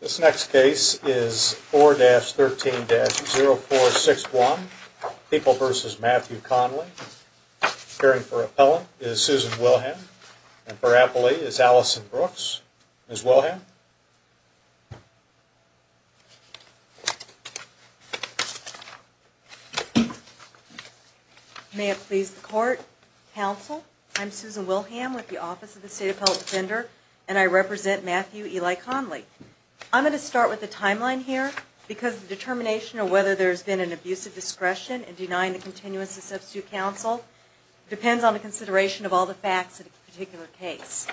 This next case is 4-13-0461, People v. Matthew Conley. Appearing for Appellant is Susan Wilham. And for Appellee is Allison Brooks. Ms. Wilham? May it please the Court, Counsel, I'm Susan Wilham with the Office of the State Appellate Defender, and I represent Matthew Eli Conley. I'm going to start with the timeline here, because the determination of whether there's been an abuse of discretion in denying the continuance of substitute counsel depends on the consideration of all the facts of the particular case.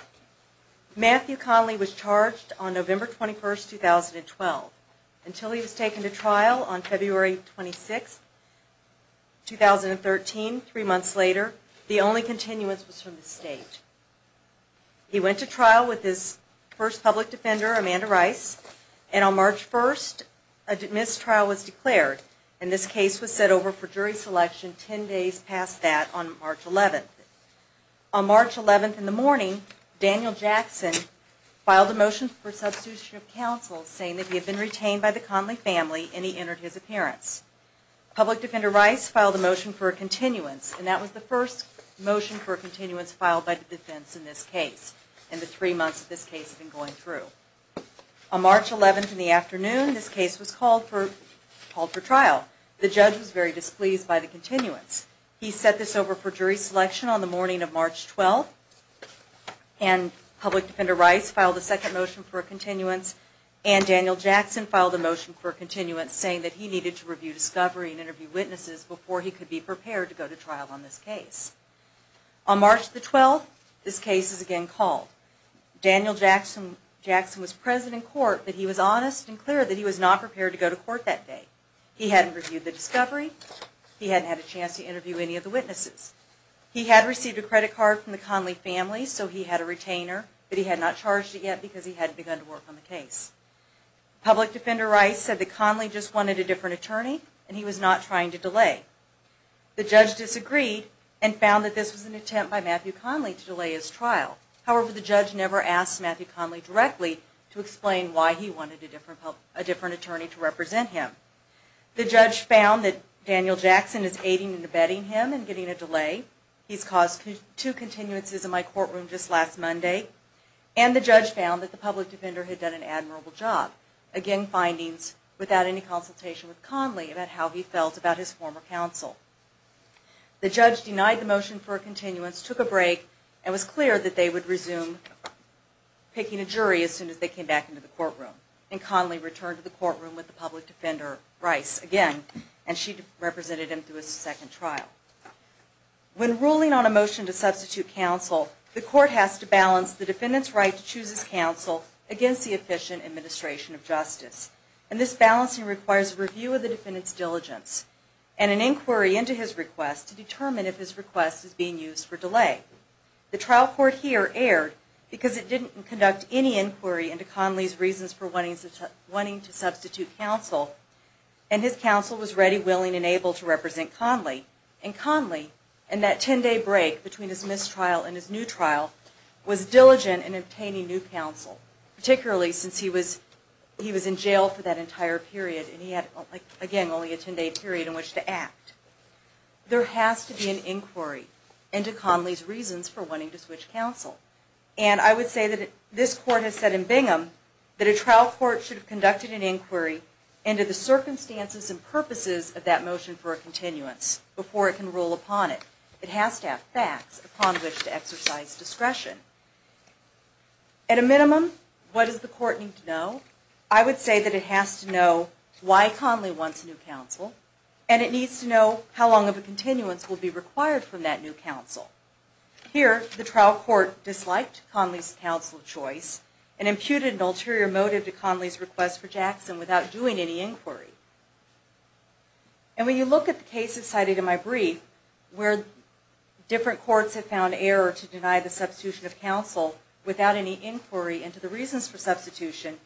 Matthew Conley was charged on November 21, 2012. Until he was taken to trial on February 26, 2013, three months later, the only continuance was from the State. He went to trial with his first public defender, Amanda Rice, and on March 1, a missed trial was declared, and this case was set over for jury selection ten days past that on March 11. On March 11 in the morning, Daniel Jackson filed a motion for substitution of counsel, saying that he had been retained by the Conley family, and he entered his appearance. Public Defender Rice filed a motion for a continuance, and that was the first motion for a continuance filed by the defense in this case, and the three months that this case had been going through. On March 11 in the afternoon, this case was called for trial. The judge was very displeased by the continuance. He set this over for jury selection on the morning of March 12, and Public Defender Rice filed a second motion for a continuance, and Daniel Jackson filed a motion for a continuance, saying that he needed to review discovery and interview witnesses before he could be prepared to go to trial on this case. On March 12, this case is again called. Daniel Jackson was present in court, but he was honest and clear that he was not prepared to go to court that day. He hadn't reviewed the discovery. He hadn't had a chance to interview any of the witnesses. He had received a credit card from the Conley family, so he had a retainer, but he had not charged it yet because he hadn't begun to work on the case. Public Defender Rice said that Conley just wanted a different attorney, and he was not trying to delay. The judge disagreed and found that this was an attempt by Matthew Conley to delay his trial. However, the judge never asked Matthew Conley directly to explain why he wanted a different attorney to represent him. The judge found that Daniel Jackson is aiding and abetting him and getting a delay. He's caused two continuances in my courtroom just last Monday. And the judge found that the Public Defender had done an admirable job, again, findings without any consultation with Conley about how he felt about his former counsel. The judge denied the motion for a continuance, took a break, and was clear that they would resume picking a jury as soon as they came back into the courtroom. And Conley returned to the courtroom with the Public Defender Rice again, and she represented him through his second trial. When ruling on a motion to substitute counsel, the court has to balance the defendant's right to choose his counsel against the efficient administration of justice. And this balancing requires a review of the defendant's diligence and an inquiry into his request to determine if his request is being used for delay. The trial court here erred because it didn't conduct any inquiry into Conley's reasons for wanting to substitute counsel, and his counsel was ready, willing, and able to represent Conley. And Conley, in that 10-day break between his missed trial and his new trial, was diligent in obtaining new counsel, particularly since he was in jail for that entire period and he had, again, only a 10-day period in which to act. There has to be an inquiry into Conley's reasons for wanting to switch counsel. And I would say that this Court has said in Bingham that a trial court should have conducted an inquiry into the circumstances and purposes of that motion for a continuance before it can rule upon it. It has to have facts upon which to exercise discretion. At a minimum, what does the Court need to know? I would say that it has to know why Conley wants new counsel, and it needs to know how long of a continuance will be required from that new counsel. Here, the trial court disliked Conley's counsel choice and imputed an ulterior motive to Conley's request for Jackson without doing any inquiry. And when you look at the cases cited in my brief, where different courts have found error to deny the substitution of counsel without any inquiry into the reasons for substitution,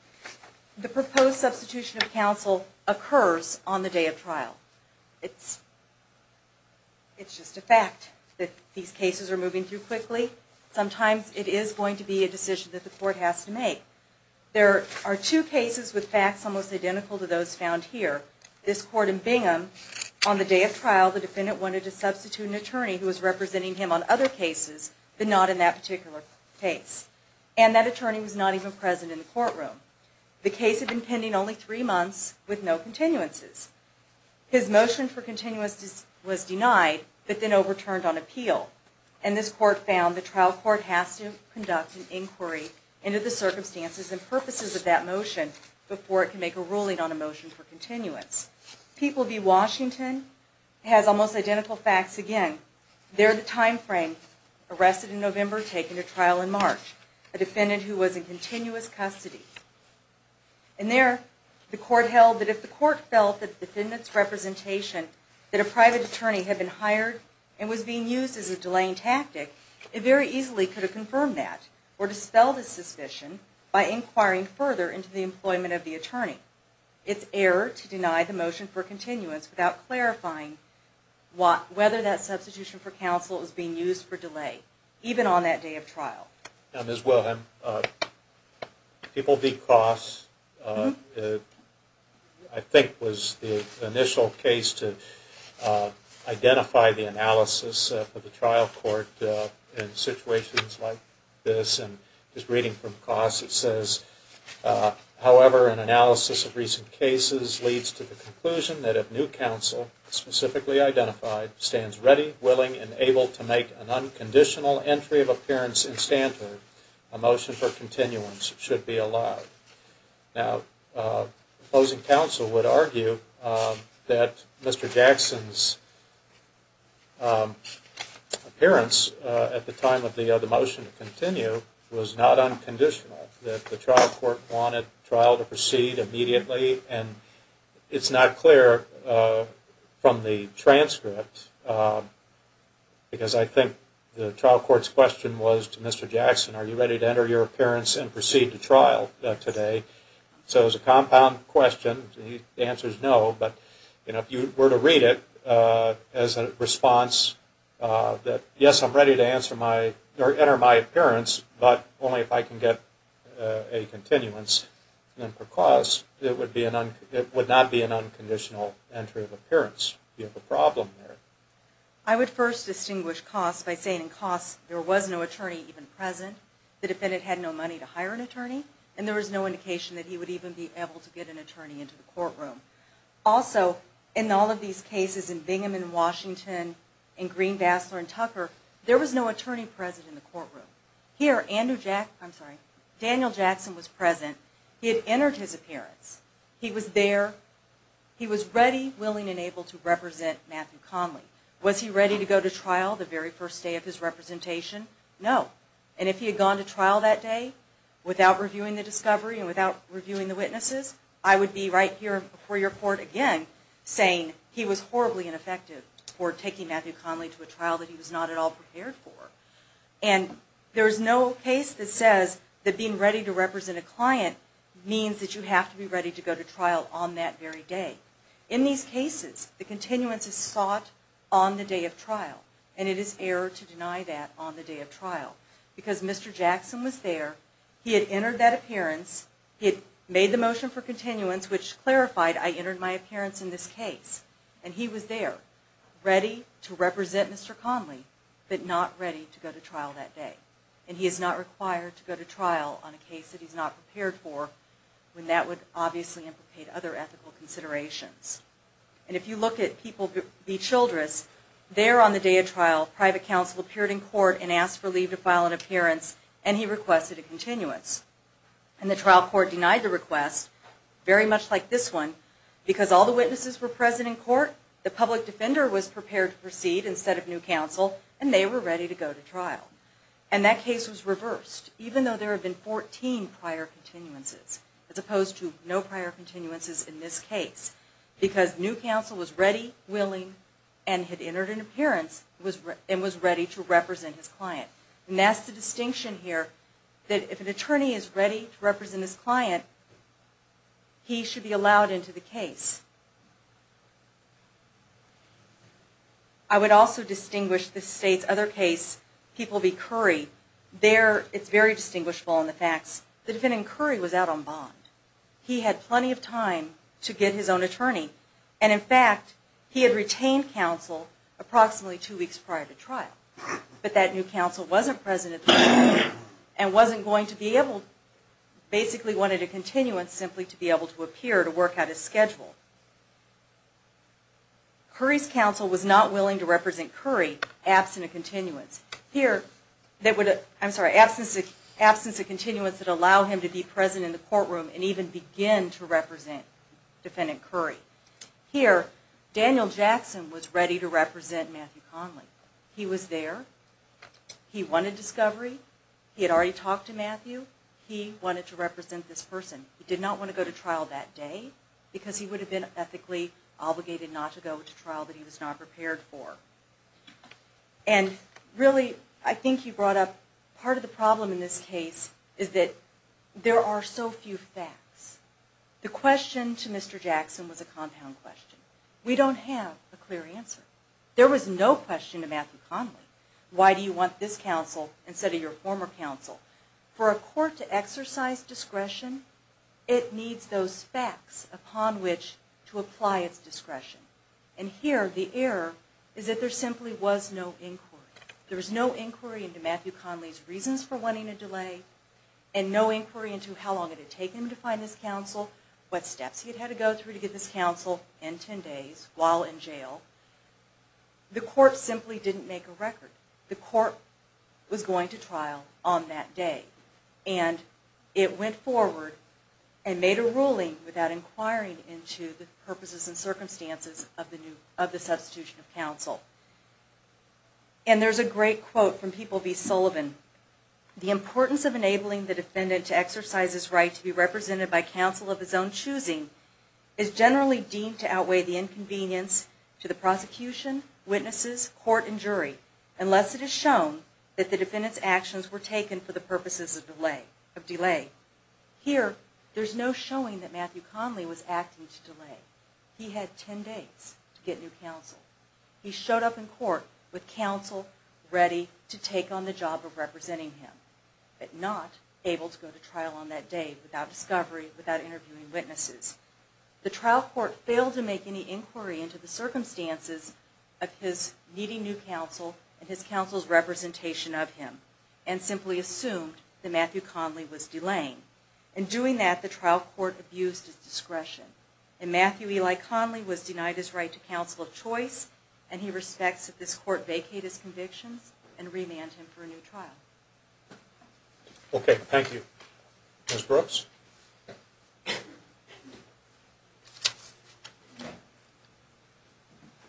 the proposed substitution of counsel occurs on the day of trial. It's just a fact that these cases are moving through quickly. Sometimes it is going to be a decision that the Court has to make. There are two cases with facts almost identical to those found here. This court in Bingham, on the day of trial, the defendant wanted to substitute an attorney who was representing him on other cases but not in that particular case. And that attorney was not even present in the courtroom. The case had been pending only three months with no continuances. His motion for continuance was denied but then overturned on appeal. And this court found the trial court has to conduct an inquiry into the circumstances and purposes of that motion before it can make a ruling on a motion for continuance. People v. Washington has almost identical facts again. There, the time frame, arrested in November, taken to trial in March, a defendant who was in continuous custody. And there, the court held that if the court felt that the defendant's representation, that a private attorney had been hired and was being used as a delaying tactic, it very easily could have confirmed that or dispelled the suspicion by inquiring further into the employment of the attorney. It's error to deny the motion for continuance without clarifying whether that substitution for counsel is being used for delay, even on that day of trial. Now, Ms. Wilhelm, People v. Cross, I think, was the initial case to identify the analysis of the trial court in situations like this. And just reading from Cross, it says, however, an analysis of recent cases leads to the conclusion that if new counsel, specifically identified, stands ready, willing, and able to make an unconditional entry of appearance in Stanford, a motion for continuance should be allowed. Now, opposing counsel would argue that Mr. Jackson's appearance at the time of the motion to continue was not unconditional, that the trial court wanted trial to proceed immediately. And it's not clear from the transcript, because I think the trial court's question was to Mr. Jackson, are you ready to enter your appearance and proceed to trial today? So it was a compound question. The answer is no. But if you were to read it as a response that, yes, I'm ready to enter my appearance, but only if I can get a continuance, then for Cross it would not be an unconditional entry of appearance. You have a problem there. I would first distinguish Cross by saying in Cross, there was no attorney even present. The defendant had no money to hire an attorney, and there was no indication that he would even be able to get an attorney into the courtroom. Also, in all of these cases, in Bingham and Washington, in Green, Bassler, and Tucker, there was no attorney present in the courtroom. Here, Andrew Jackson, I'm sorry, Daniel Jackson was present. He had entered his appearance. He was there. He was ready, willing, and able to represent Matthew Conley. Was he ready to go to trial the very first day of his representation? No. And if he had gone to trial that day without reviewing the discovery and without reviewing the witnesses, I would be right here before your court again saying he was horribly ineffective for taking Matthew Conley to a trial that he was not at all prepared for. And there is no case that says that being ready to represent a client means that you have to be ready to go to trial on that very day. In these cases, the continuance is sought on the day of trial, and it is error to deny that on the day of trial. Because Mr. Jackson was there. He had entered that appearance. He had made the motion for continuance, which clarified I entered my appearance in this case. And he was there, ready to represent Mr. Conley, but not ready to go to trial that day. And he is not required to go to trial on a case that he is not prepared for, when that would obviously implicate other ethical considerations. And if you look at People v. Childress, there on the day of trial, private counsel appeared in court and asked for leave to file an appearance, and he requested a continuance. And the trial court denied the request, very much like this one, because all the witnesses were present in court, the public defender was prepared to proceed instead of new counsel, and they were ready to go to trial. And that case was reversed, even though there had been 14 prior continuances, as opposed to no prior continuances in this case, because new counsel was ready, willing, and had entered an appearance and was ready to represent his client. And that's the distinction here, that if an attorney is ready to represent his client, he should be allowed into the case. I would also distinguish this state's other case, People v. Curry, there it's very distinguishable in the facts, the defendant, Curry, was out on bond. He had plenty of time to get his own attorney, and in fact, he had retained counsel approximately two weeks prior to trial. But that new counsel wasn't present at the time, and wasn't going to be able, basically wanted a continuance, simply to be able to appear to work out his schedule. Curry's counsel was not willing to represent Curry, absent a continuance. Here, that would, I'm sorry, absence of continuance that would allow him to be present in the courtroom and even begin to represent defendant Curry. Here, Daniel Jackson was ready to represent Matthew Conley. He was there. He wanted discovery. He had already talked to Matthew. He wanted to represent this person. He did not want to go to trial that day, because he would have been ethically obligated not to go to trial that he was not prepared for. And really, I think you brought up part of the problem in this case is that there are so few facts. The question to Mr. Jackson was a compound question. We don't have a clear answer. There was no question to Matthew Conley. Why do you want this counsel instead of your former counsel? For a court to exercise discretion, it needs those facts upon which to apply its discretion. And here, the error is that there simply was no inquiry. There was no inquiry into Matthew Conley's reasons for wanting a delay and no inquiry into how long it had taken him to find this counsel, what steps he had had to go through to get this counsel, and 10 days while in jail. The court simply didn't make a record. The court was going to trial on that day. And it went forward and made a ruling without inquiring into the purposes and circumstances of the substitution of counsel. And there's a great quote from People v. Sullivan. The importance of enabling the defendant to exercise his right to be represented by counsel of his own choosing is generally deemed to outweigh the inconvenience to the prosecution, witnesses, court, and jury unless it is shown that the defendant's actions were taken for the purposes of delay. Here, there's no showing that Matthew Conley was acting to delay. He had 10 days to get new counsel. He showed up in court with counsel ready to take on the job of representing him but not able to go to trial on that day without discovery, without interviewing witnesses. The trial court failed to make any inquiry into the circumstances of his needing new counsel and his counsel's representation of him and simply assumed that Matthew Conley was delaying. In doing that, the trial court abused his discretion. And Matthew Eli Conley was denied his right to counsel of choice, and he respects that this court vacate his convictions and remand him for a new trial. Okay, thank you. Ms. Brooks?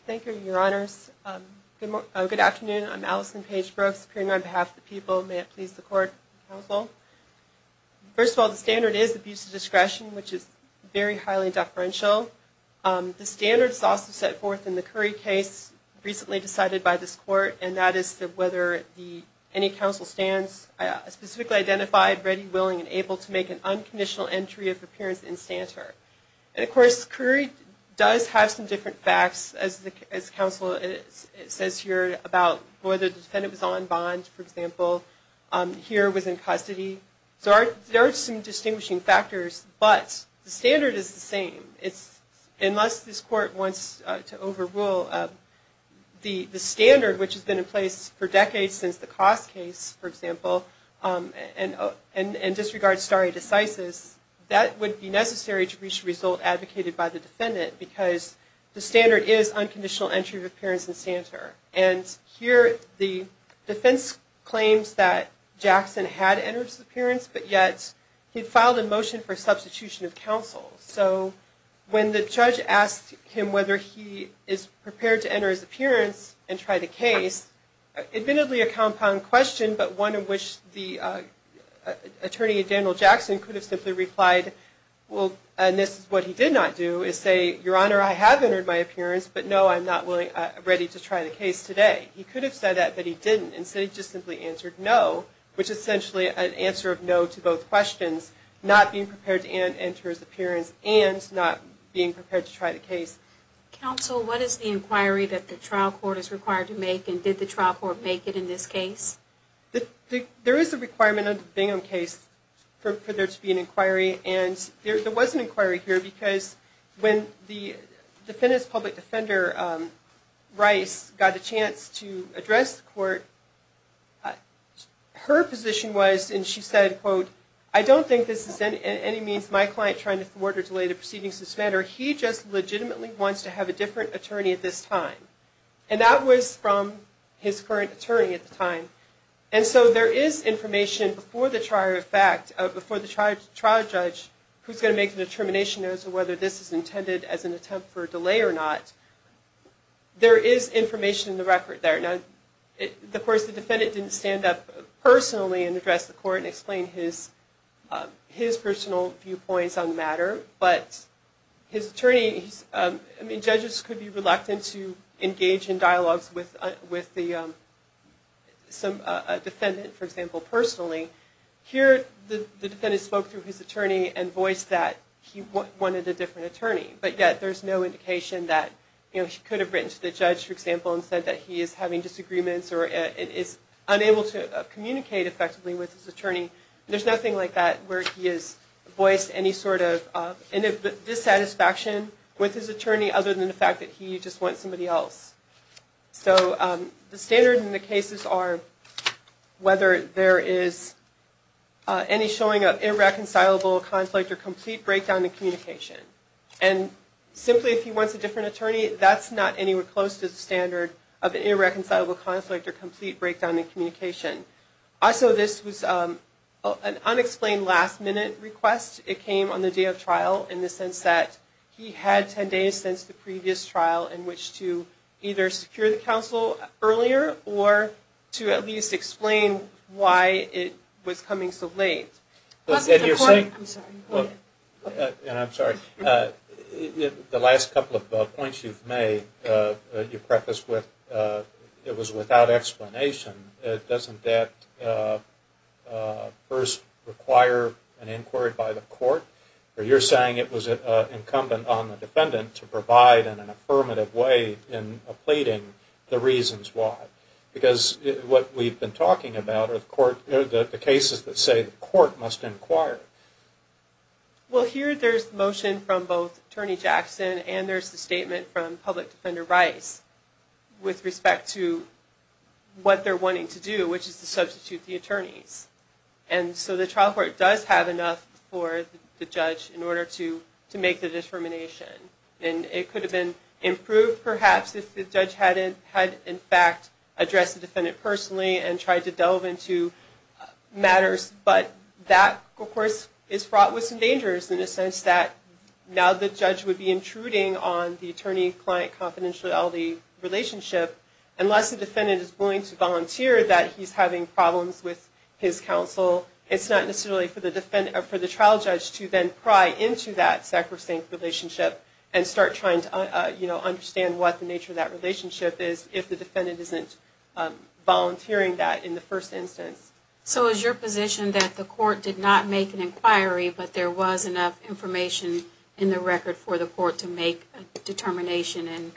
Thank you, Your Honors. Good afternoon. I'm Allison Paige Brooks, appearing on behalf of the people. May it please the court and counsel. First of all, the standard is abuse of discretion, which is very highly deferential. The standard is also set forth in the Curry case, recently decided by this court, and that is whether any counsel stands specifically identified, ready, willing, and able to make an unconditional entry of appearance in Stantor. And, of course, Curry does have some different facts, as counsel says here, about whether the defendant was on bond, for example, here was in custody. So there are some distinguishing factors, but the standard is the same. Unless this court wants to overrule the standard, which has been in place for decades since the Koss case, for example, and disregards stare decisis, that would be necessary to reach a result advocated by the defendant, because the standard is unconditional entry of appearance in Stantor. And here the defense claims that Jackson had entered his appearance, but yet he filed a motion for substitution of counsel. So when the judge asked him whether he is prepared to enter his appearance and try the case, admittedly a compound question, but one in which the attorney, Daniel Jackson, could have simply replied, and this is what he did not do, is say, Your Honor, I have entered my appearance, but no, I'm not ready to try the case today. He could have said that, but he didn't. Instead he just simply answered no, which is essentially an answer of no to both questions, not being prepared to enter his appearance and not being prepared to try the case. Counsel, what is the inquiry that the trial court is required to make, and did the trial court make it in this case? There is a requirement under the Bingham case for there to be an inquiry, and there was an inquiry here, because when the defendant's public defender, Rice, got a chance to address the court, her position was, and she said, I don't think this is in any means my client trying to thwart or delay the proceedings of this matter. He just legitimately wants to have a different attorney at this time. And that was from his current attorney at the time. And so there is information before the trial judge who's going to make the determination as to whether this is intended as an attempt for a delay or not. There is information in the record there. Now, of course, the defendant didn't stand up personally and address the court and explain his personal viewpoints on the matter, but his attorney, I mean, judges could be reluctant to engage in dialogues with the defendant, for example, personally. Here the defendant spoke through his attorney and voiced that he wanted a different attorney, but yet there's no indication that, you know, he could have written to the judge, for example, and said that he is having disagreements or is unable to communicate effectively with his attorney. There's nothing like that where he has voiced any sort of dissatisfaction with his attorney other than the fact that he just wants somebody else. So the standard in the cases are whether there is any showing of irreconcilable conflict or complete breakdown in communication. And simply if he wants a different attorney, that's not anywhere close to the standard of an irreconcilable conflict or complete breakdown in communication. Also, this was an unexplained last-minute request. It came on the day of trial in the sense that he had 10 days since the previous trial in which to either secure the counsel earlier or to at least explain why it was coming so late. And I'm sorry, the last couple of points you've made, you prefaced with it was without explanation. Doesn't that first require an inquiry by the court? Or you're saying it was incumbent on the defendant to provide in an affirmative way in pleading the reasons why. Because what we've been talking about are the cases that say the court must inquire. Well, here there's motion from both Attorney Jackson and there's the statement from Public Defender Rice with respect to what they're wanting to do, which is to substitute the attorneys. And so the trial court does have enough for the judge in order to make the determination. And it could have been improved perhaps if the judge had in fact addressed the defendant personally and tried to delve into matters. But that, of course, is fraught with some dangers in the sense that now the judge would be intruding on the attorney-client confidentiality relationship. Unless the defendant is willing to volunteer that he's having problems with his counsel, it's not necessarily for the trial judge to then pry into that sacrosanct relationship and start trying to understand what the nature of that relationship is if the defendant isn't volunteering that in the first instance. So is your position that the court did not make an inquiry but there was enough information in the record for the court to make a determination and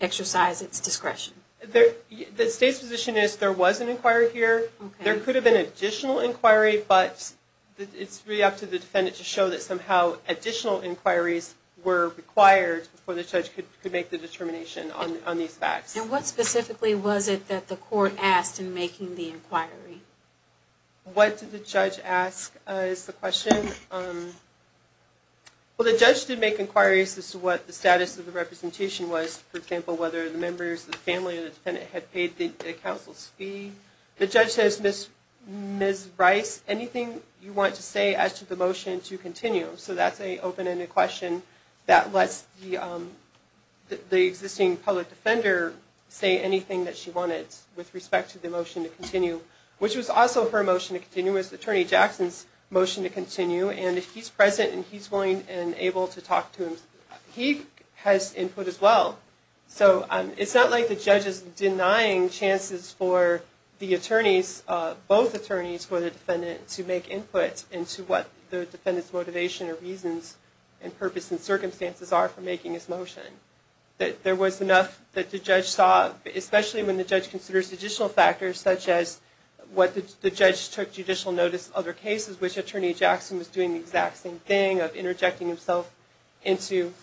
exercise its discretion? The state's position is there was an inquiry here. There could have been an additional inquiry, but it's really up to the defendant to show that somehow additional inquiries were required before the judge could make the determination on these facts. What did the judge ask is the question. Well, the judge did make inquiries as to what the status of the representation was. For example, whether the members of the family or the defendant had paid the counsel's fee. The judge says, Ms. Bryce, anything you want to say as to the motion to continue. So that's an open-ended question that lets the existing public defender say anything that she wanted with respect to the motion to continue, which was also her motion to continue. It was Attorney Jackson's motion to continue, and if he's present and he's willing and able to talk to him, he has input as well. So it's not like the judge is denying chances for the attorneys, both attorneys, for the defendant to make input into what the defendant's motivation or reasons and purpose and circumstances are for making his motion. There was enough that the judge saw, especially when the judge considers additional factors such as what the judge took judicial notice of other cases, which Attorney Jackson was doing the exact same thing of interjecting himself into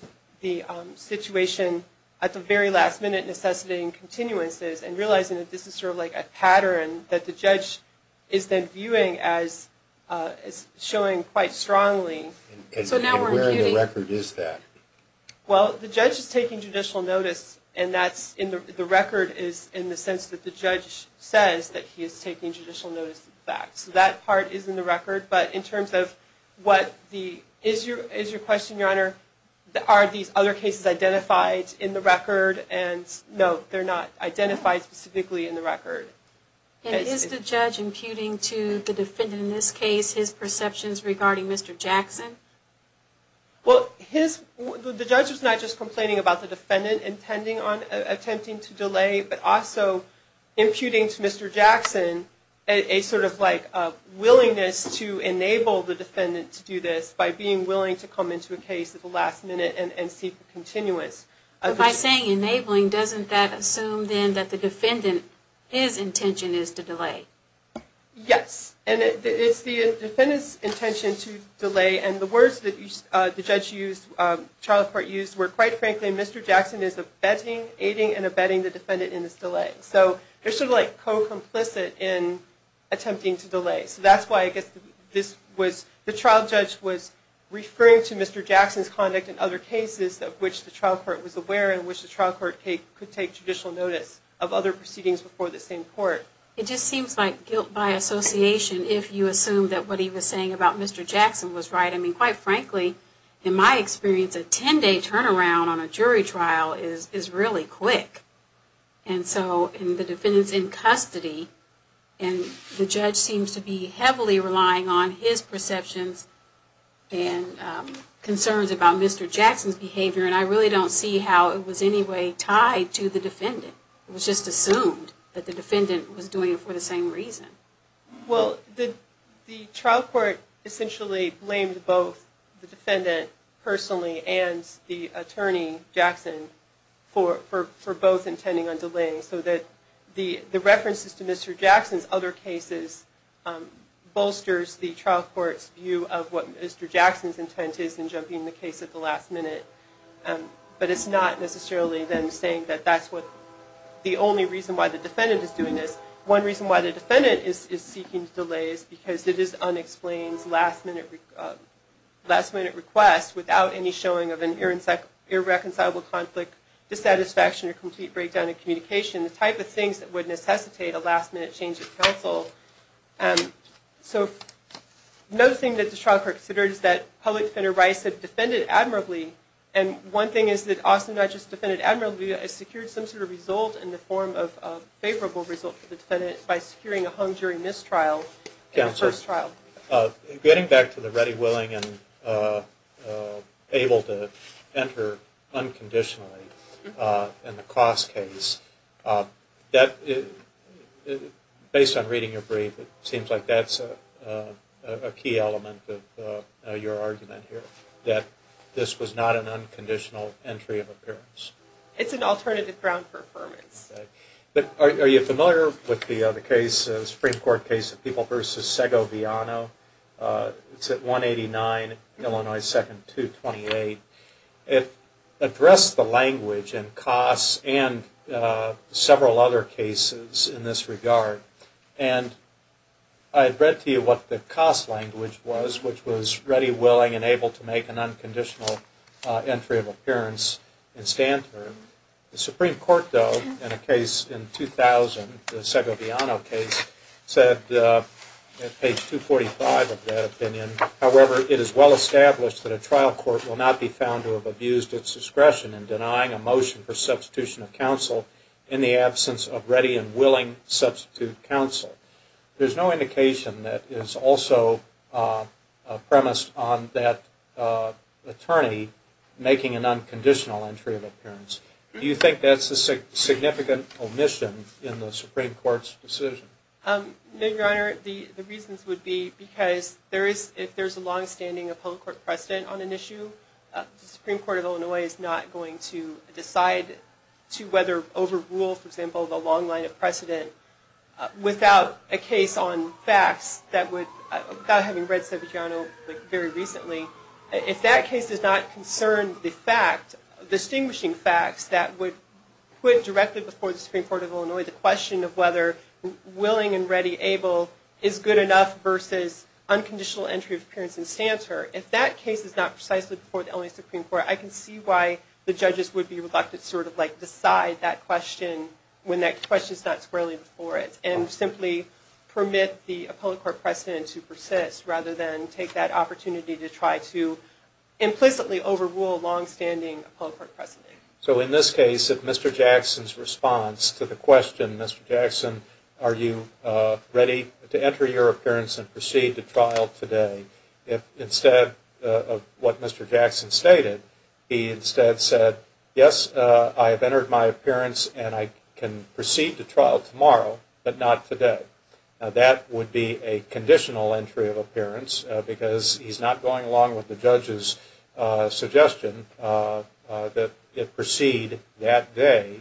the situation at the very last minute necessitating continuances and realizing that this is sort of like a pattern that the judge is then viewing as showing quite strongly. And where in the record is that? Well, the judge is taking judicial notice, and the record is in the sense that the judge says that he is taking judicial notice of the facts. So that part is in the record, but in terms of what the... Is your question, Your Honor, are these other cases identified in the record? And no, they're not identified specifically in the record. And is the judge imputing to the defendant in this case his perceptions regarding Mr. Jackson? Well, the judge is not just complaining about the defendant attempting to delay, but also imputing to Mr. Jackson a sort of like willingness to enable the defendant to do this by being willing to come into a case at the last minute and seek a continuance. By saying enabling, doesn't that assume then that the defendant, his intention is to delay? Yes, and it's the defendant's intention to delay. And the words that the judge used, the trial court used, were quite frankly, Mr. Jackson is abetting, aiding and abetting the defendant in this delay. So they're sort of like co-complicit in attempting to delay. So that's why I guess the trial judge was referring to Mr. Jackson's conduct in other cases of which the trial court was aware and which the trial court could take judicial notice of other proceedings before the same court. It just seems like guilt by association if you assume that what he was saying about Mr. Jackson was right. I mean, quite frankly, in my experience, a 10-day turnaround on a jury trial is really quick. And so, and the defendant's in custody, and the judge seems to be heavily relying on his perceptions and concerns about Mr. Jackson's behavior, and I really don't see how it was in any way tied to the defendant. It was just assumed that the defendant was doing it for the same reason. Well, the trial court essentially blamed both the defendant personally and the attorney, Jackson, for both intending on delaying, so that the references to Mr. Jackson's other cases bolsters the trial court's view of what Mr. Jackson's intent is in jumping the case at the last minute. But it's not necessarily them saying that that's the only reason why the defendant is doing this. One reason why the defendant is seeking delay is because it is unexplained last-minute request without any showing of an irreconcilable conflict, dissatisfaction, or complete breakdown in communication, the type of things that would necessitate a last-minute change of counsel. So, another thing that the trial court considered is that Public Defender Rice had defended admirably, and one thing is that Austin Dutchess defended admirably and secured some sort of result in the form of a favorable result for the defendant by securing a hung jury mistrial in the first trial. Counselor, getting back to the ready, willing, and able to enter unconditionally in the cost case, based on reading your brief, it seems like that's a key element of your argument here, that this was not an unconditional entry of appearance. It's an alternative ground for affirmance. Are you familiar with the Supreme Court case of People v. Segoviano? It's at 189 Illinois 2nd 228. It addressed the language and costs and several other cases in this regard, and I read to you what the cost language was, which was ready, willing, and able to make an unconditional entry of appearance in Stanford. The Supreme Court, though, in a case in 2000, the Segoviano case, said at page 245 of that opinion, however, it is well established that a trial court will not be found to have abused its discretion in denying a motion for substitution of counsel in the absence of ready and willing substitute counsel. There's no indication that is also premised on that attorney making an unconditional entry of appearance. Do you think that's a significant omission in the Supreme Court's decision? No, Your Honor. The reasons would be because if there's a longstanding public court precedent on an issue, the Supreme Court of Illinois is not going to decide to overrule, for example, the long line of precedent without a case on facts, without having read Segoviano very recently. If that case does not concern the fact, distinguishing facts that would put directly before the Supreme Court of Illinois the question of whether willing and ready, able is good enough versus unconditional entry of appearance in Stanford, if that case is not precisely before the Illinois Supreme Court, I can see why the judges would be reluctant to decide that question when that question is not squarely before it and simply permit the public court precedent to persist rather than take that opportunity to try to implicitly overrule a longstanding public court precedent. So in this case, if Mr. Jackson's response to the question, Mr. Jackson, are you ready to enter your appearance and proceed to trial today, if instead of what Mr. Jackson stated, he instead said, yes, I have entered my appearance and I can proceed to trial tomorrow but not today, that would be a conditional entry of appearance because he's not going along with the judge's suggestion that it proceed that day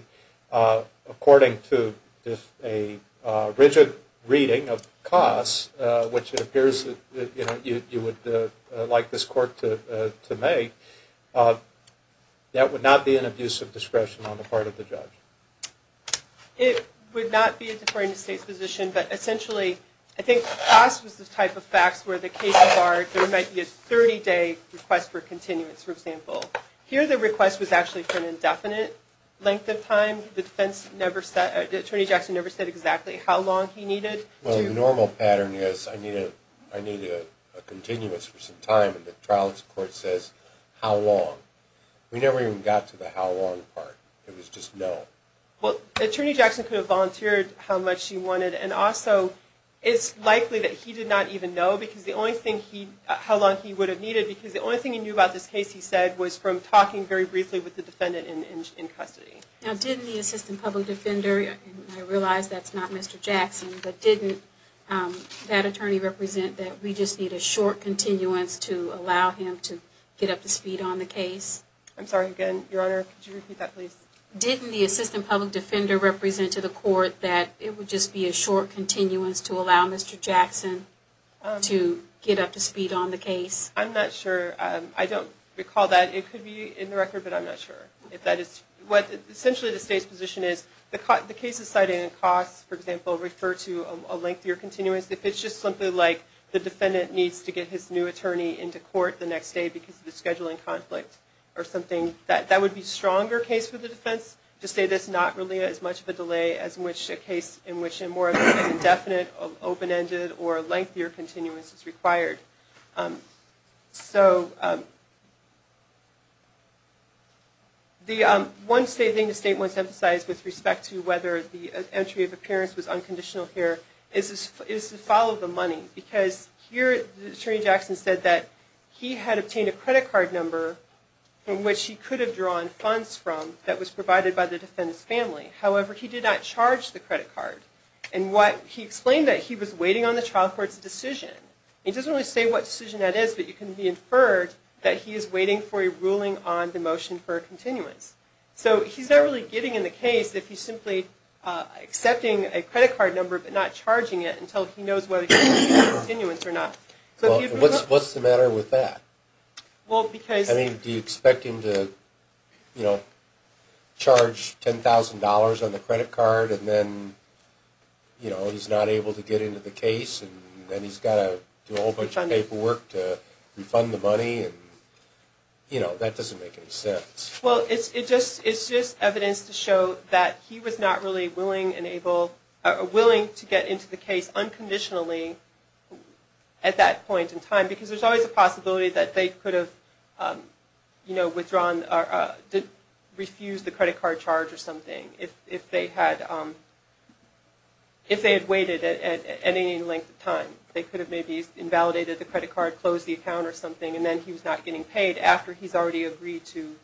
according to a rigid reading of COSS, which it appears that you would like this court to make, that would not be an abuse of discretion on the part of the judge. It would not be a deferring to state's position, but essentially I think COSS was the type of facts where the cases are, there might be a 30-day request for continuance, for example. Here the request was actually for an indefinite length of time. The defense never said, Attorney Jackson never said exactly how long he needed. Well, the normal pattern is I need a continuance for some time and the trial court says how long. We never even got to the how long part. It was just no. Well, Attorney Jackson could have volunteered how much he wanted and also it's likely that he did not even know how long he would have needed because the only thing he knew about this case, he said, was from talking very briefly with the defendant in custody. Now didn't the assistant public defender, and I realize that's not Mr. Jackson, but didn't that attorney represent that we just need a short continuance to allow him to get up to speed on the case? I'm sorry again, Your Honor, could you repeat that please? Didn't the assistant public defender represent to the court that it would just be a short continuance to allow Mr. Jackson to get up to speed on the case? I'm not sure. I don't recall that. It could be in the record, but I'm not sure. Essentially the state's position is the cases cited in costs, for example, refer to a lengthier continuance. If it's just something like the defendant needs to get his new attorney into court the next day because of a scheduling conflict or something, that would be a stronger case for the defense to say there's not really as much of a delay as in a case in which a more indefinite, open-ended, or lengthier continuance is required. One thing the state wants to emphasize with respect to whether the entry of appearance was unconditional here is to follow the money because here the attorney Jackson said that he had obtained a credit card number from which he could have drawn funds from that was provided by the defendant's family. However, he did not charge the credit card. He explained that he was waiting on the trial court's decision. It doesn't really say what decision that is, but it can be inferred that he is waiting for a ruling on the motion for a continuance. So he's not really getting in the case if he's simply accepting a credit card number but not charging it until he knows whether he's getting a continuance or not. What's the matter with that? Do you expect him to charge $10,000 on the credit card and then he's not able to get into the case and then he's got to do a whole bunch of paperwork to refund the money? That doesn't make any sense. Well, it's just evidence to show that he was not really willing to get into the case unconditionally at that point in time because there's always a possibility that they could have refused the credit card charge or something if they had waited at any length of time. They could have maybe invalidated the credit card, closed the account or something, and then he was not getting paid after he's already agreed to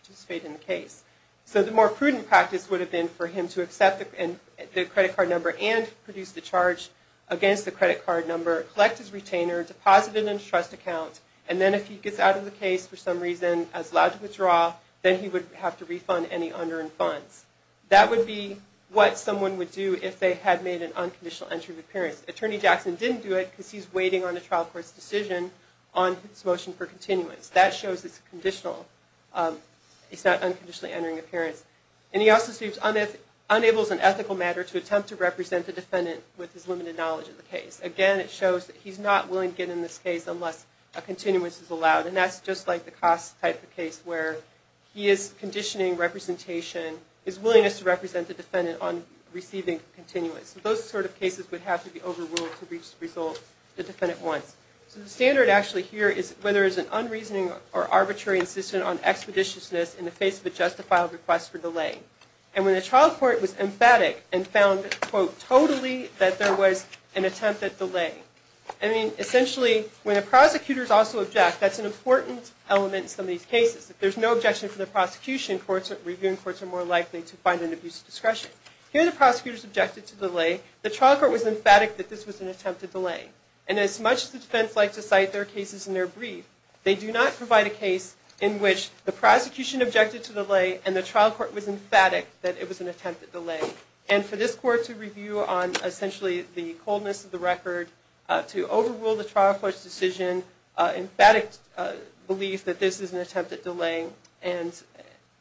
participate in the case. So the more prudent practice would have been for him to accept the credit card number and produce the charge against the credit card number, collect his retainer, deposit it in his trust account, and then if he gets out of the case for some reason, is allowed to withdraw, then he would have to refund any under-funds. That would be what someone would do if they had made an unconditional entry of appearance. Attorney Jackson didn't do it because he's waiting on a trial court's decision on his motion for continuance. That shows it's a conditional, he's not unconditionally entering appearance. And he also states, unables an ethical matter to attempt to represent the defendant with his limited knowledge of the case. Again, it shows that he's not willing to get in this case unless a continuance is allowed, and that's just like the Koss type of case where he is conditioning representation, his willingness to represent the defendant on receiving continuance. Those sort of cases would have to be overruled to reach the result the defendant wants. So the standard actually here is whether it's an unreasoning or arbitrary insistence on expeditiousness in the face of a justifiable request for delay. And when the trial court was emphatic and found, quote, totally that there was an attempt at delay. I mean, essentially, when the prosecutors also object, that's an important element in some of these cases. If there's no objection from the prosecution, reviewing courts are more likely to find an abuse of discretion. Here the prosecutors objected to delay. The trial court was emphatic that this was an attempt at delay. And as much as the defense likes to cite their cases in their brief, they do not provide a case in which the prosecution objected to delay and the trial court was emphatic that it was an attempt at delay. And for this court to review on essentially the coldness of the record, to overrule the trial court's decision, emphatic belief that this is an attempt at delay, and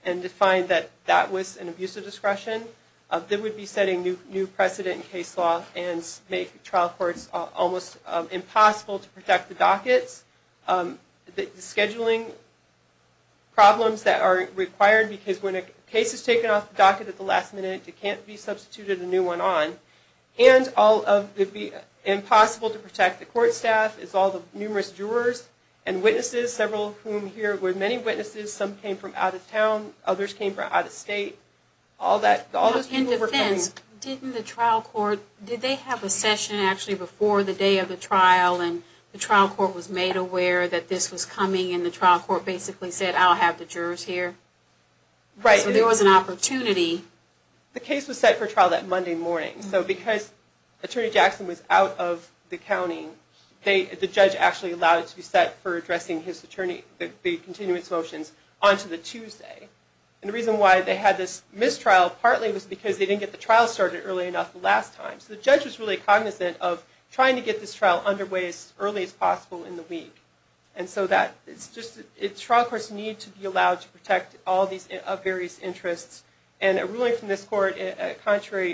to find that that was an abuse of discretion, that would be setting new precedent in case law and make trial courts almost impossible to protect the dockets, the scheduling problems that are required because when a case is taken off the docket at the last minute, it can't be substituted a new one on, and it would be impossible to protect the court staff, all the numerous jurors and witnesses, several of whom here were many witnesses. Some came from out of town. Others came from out of state. All that, all those people were coming. In defense, didn't the trial court, did they have a session actually before the day of the trial and the trial court was made aware that this was coming and the trial court basically said I'll have the jurors here? Right. So there was an opportunity. The case was set for trial that Monday morning. So because Attorney Jackson was out of the county, the judge actually allowed it to be set for addressing his attorney, the continuance motions, on to the Tuesday. And the reason why they had this mistrial, partly was because they didn't get the trial started early enough the last time. So the judge was really cognizant of trying to get this trial underway as early as possible in the week. And so trial courts need to be allowed to protect all these various interests, and a ruling from this court, contrary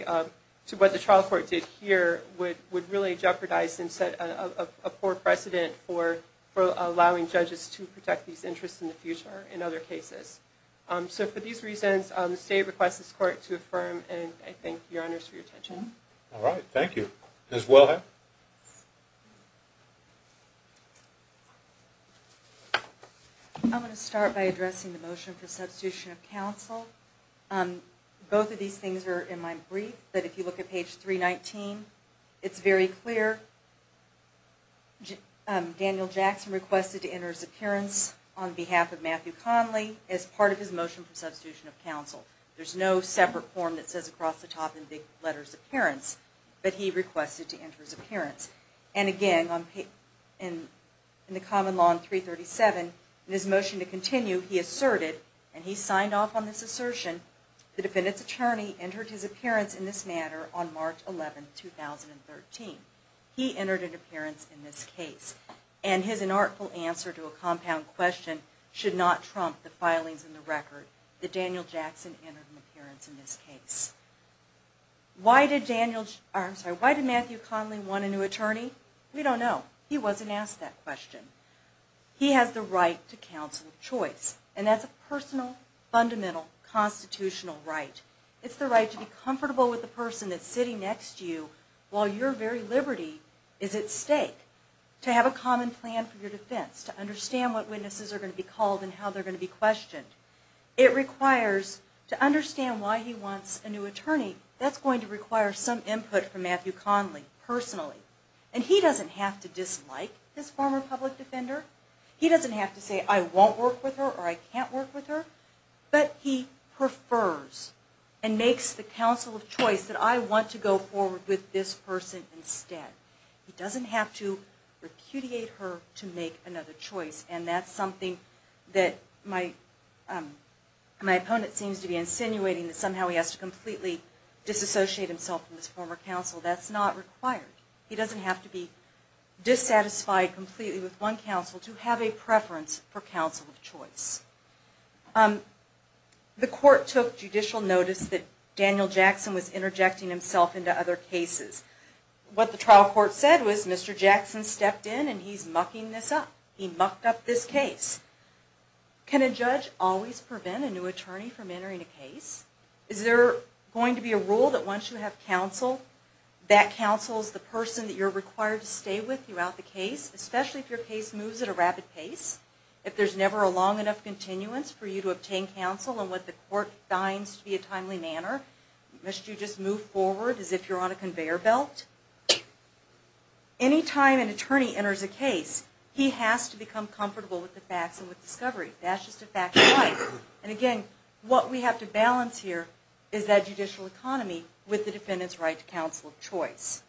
to what the trial court did here, would really jeopardize and set a poor precedent for allowing judges to protect these interests in the future in other cases. So for these reasons, the state requests this court to affirm, and I thank your honors for your attention. All right, thank you. Ms. Wilhite? Both of these things are in my brief. But if you look at page 319, it's very clear. Daniel Jackson requested to enter his appearance on behalf of Matthew Conley as part of his motion for substitution of counsel. There's no separate form that says across the top in the letters appearance, but he requested to enter his appearance. And again, in the common law on 337, in his motion to continue, he asserted, and he signed off on this assertion, the defendant's attorney entered his appearance in this matter on March 11, 2013. He entered an appearance in this case. And his inartful answer to a compound question should not trump the filings in the record, that Daniel Jackson entered an appearance in this case. Why did Matthew Conley want a new attorney? We don't know. He wasn't asked that question. He has the right to counsel of choice. And that's a personal, fundamental, constitutional right. It's the right to be comfortable with the person that's sitting next to you while your very liberty is at stake, to have a common plan for your defense, to understand what witnesses are going to be called and how they're going to be questioned. It requires to understand why he wants a new attorney. That's going to require some input from Matthew Conley personally. And he doesn't have to dislike this former public defender. He doesn't have to say, I won't work with her or I can't work with her. But he prefers and makes the counsel of choice that I want to go forward with this person instead. He doesn't have to repudiate her to make another choice. And that's something that my opponent seems to be insinuating that somehow he has to completely disassociate himself from this former counsel. That's not required. He doesn't have to be dissatisfied completely with one counsel to have a preference for counsel of choice. The court took judicial notice that Daniel Jackson was interjecting himself into other cases. What the trial court said was Mr. Jackson stepped in and he's mucking this up. He mucked up this case. Can a judge always prevent a new attorney from entering a case? Is there going to be a rule that once you have counsel, that counsel is the person that you're required to stay with throughout the case, especially if your case moves at a rapid pace? If there's never a long enough continuance for you to obtain counsel in what the court finds to be a timely manner, must you just move forward as if you're on a conveyor belt? Any time an attorney enters a case, he has to become comfortable with the facts and with discovery. That's just a fact of life. Again, what we have to balance here is that judicial economy with the defendant's right to counsel of choice.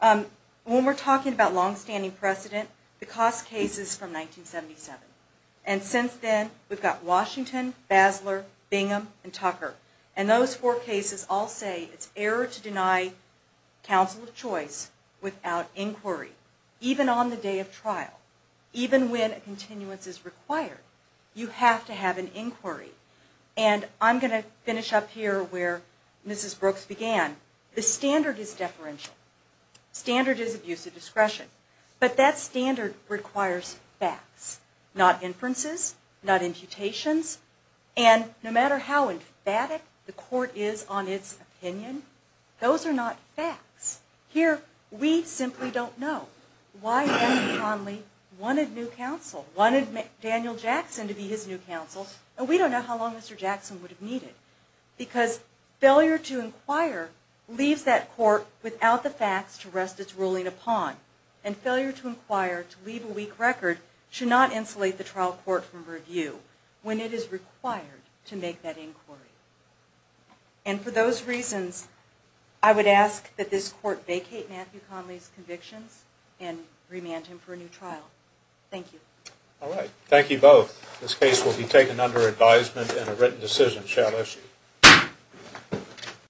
When we're talking about longstanding precedent, the cost case is from 1977. Since then, we've got Washington, Basler, Bingham, and Tucker. Those four cases all say it's error to deny counsel of choice without inquiry, even on the day of trial, even when a continuance is required. You have to have an inquiry. I'm going to finish up here where Mrs. Brooks began. The standard is deferential. Standard is abuse of discretion. But that standard requires facts, not inferences, not imputations. And no matter how emphatic the court is on its opinion, those are not facts. Here, we simply don't know. Why Matthew Conley wanted new counsel, wanted Daniel Jackson to be his new counsel, and we don't know how long Mr. Jackson would have needed. Because failure to inquire leaves that court without the facts to rest its ruling upon. And failure to inquire, to leave a weak record, should not insulate the trial court from review when it is required to make that inquiry. And for those reasons, I would ask that this court vacate Matthew Conley's convictions and remand him for a new trial. Thank you. All right. Thank you both. This case will be taken under advisement and a written decision. Shalom.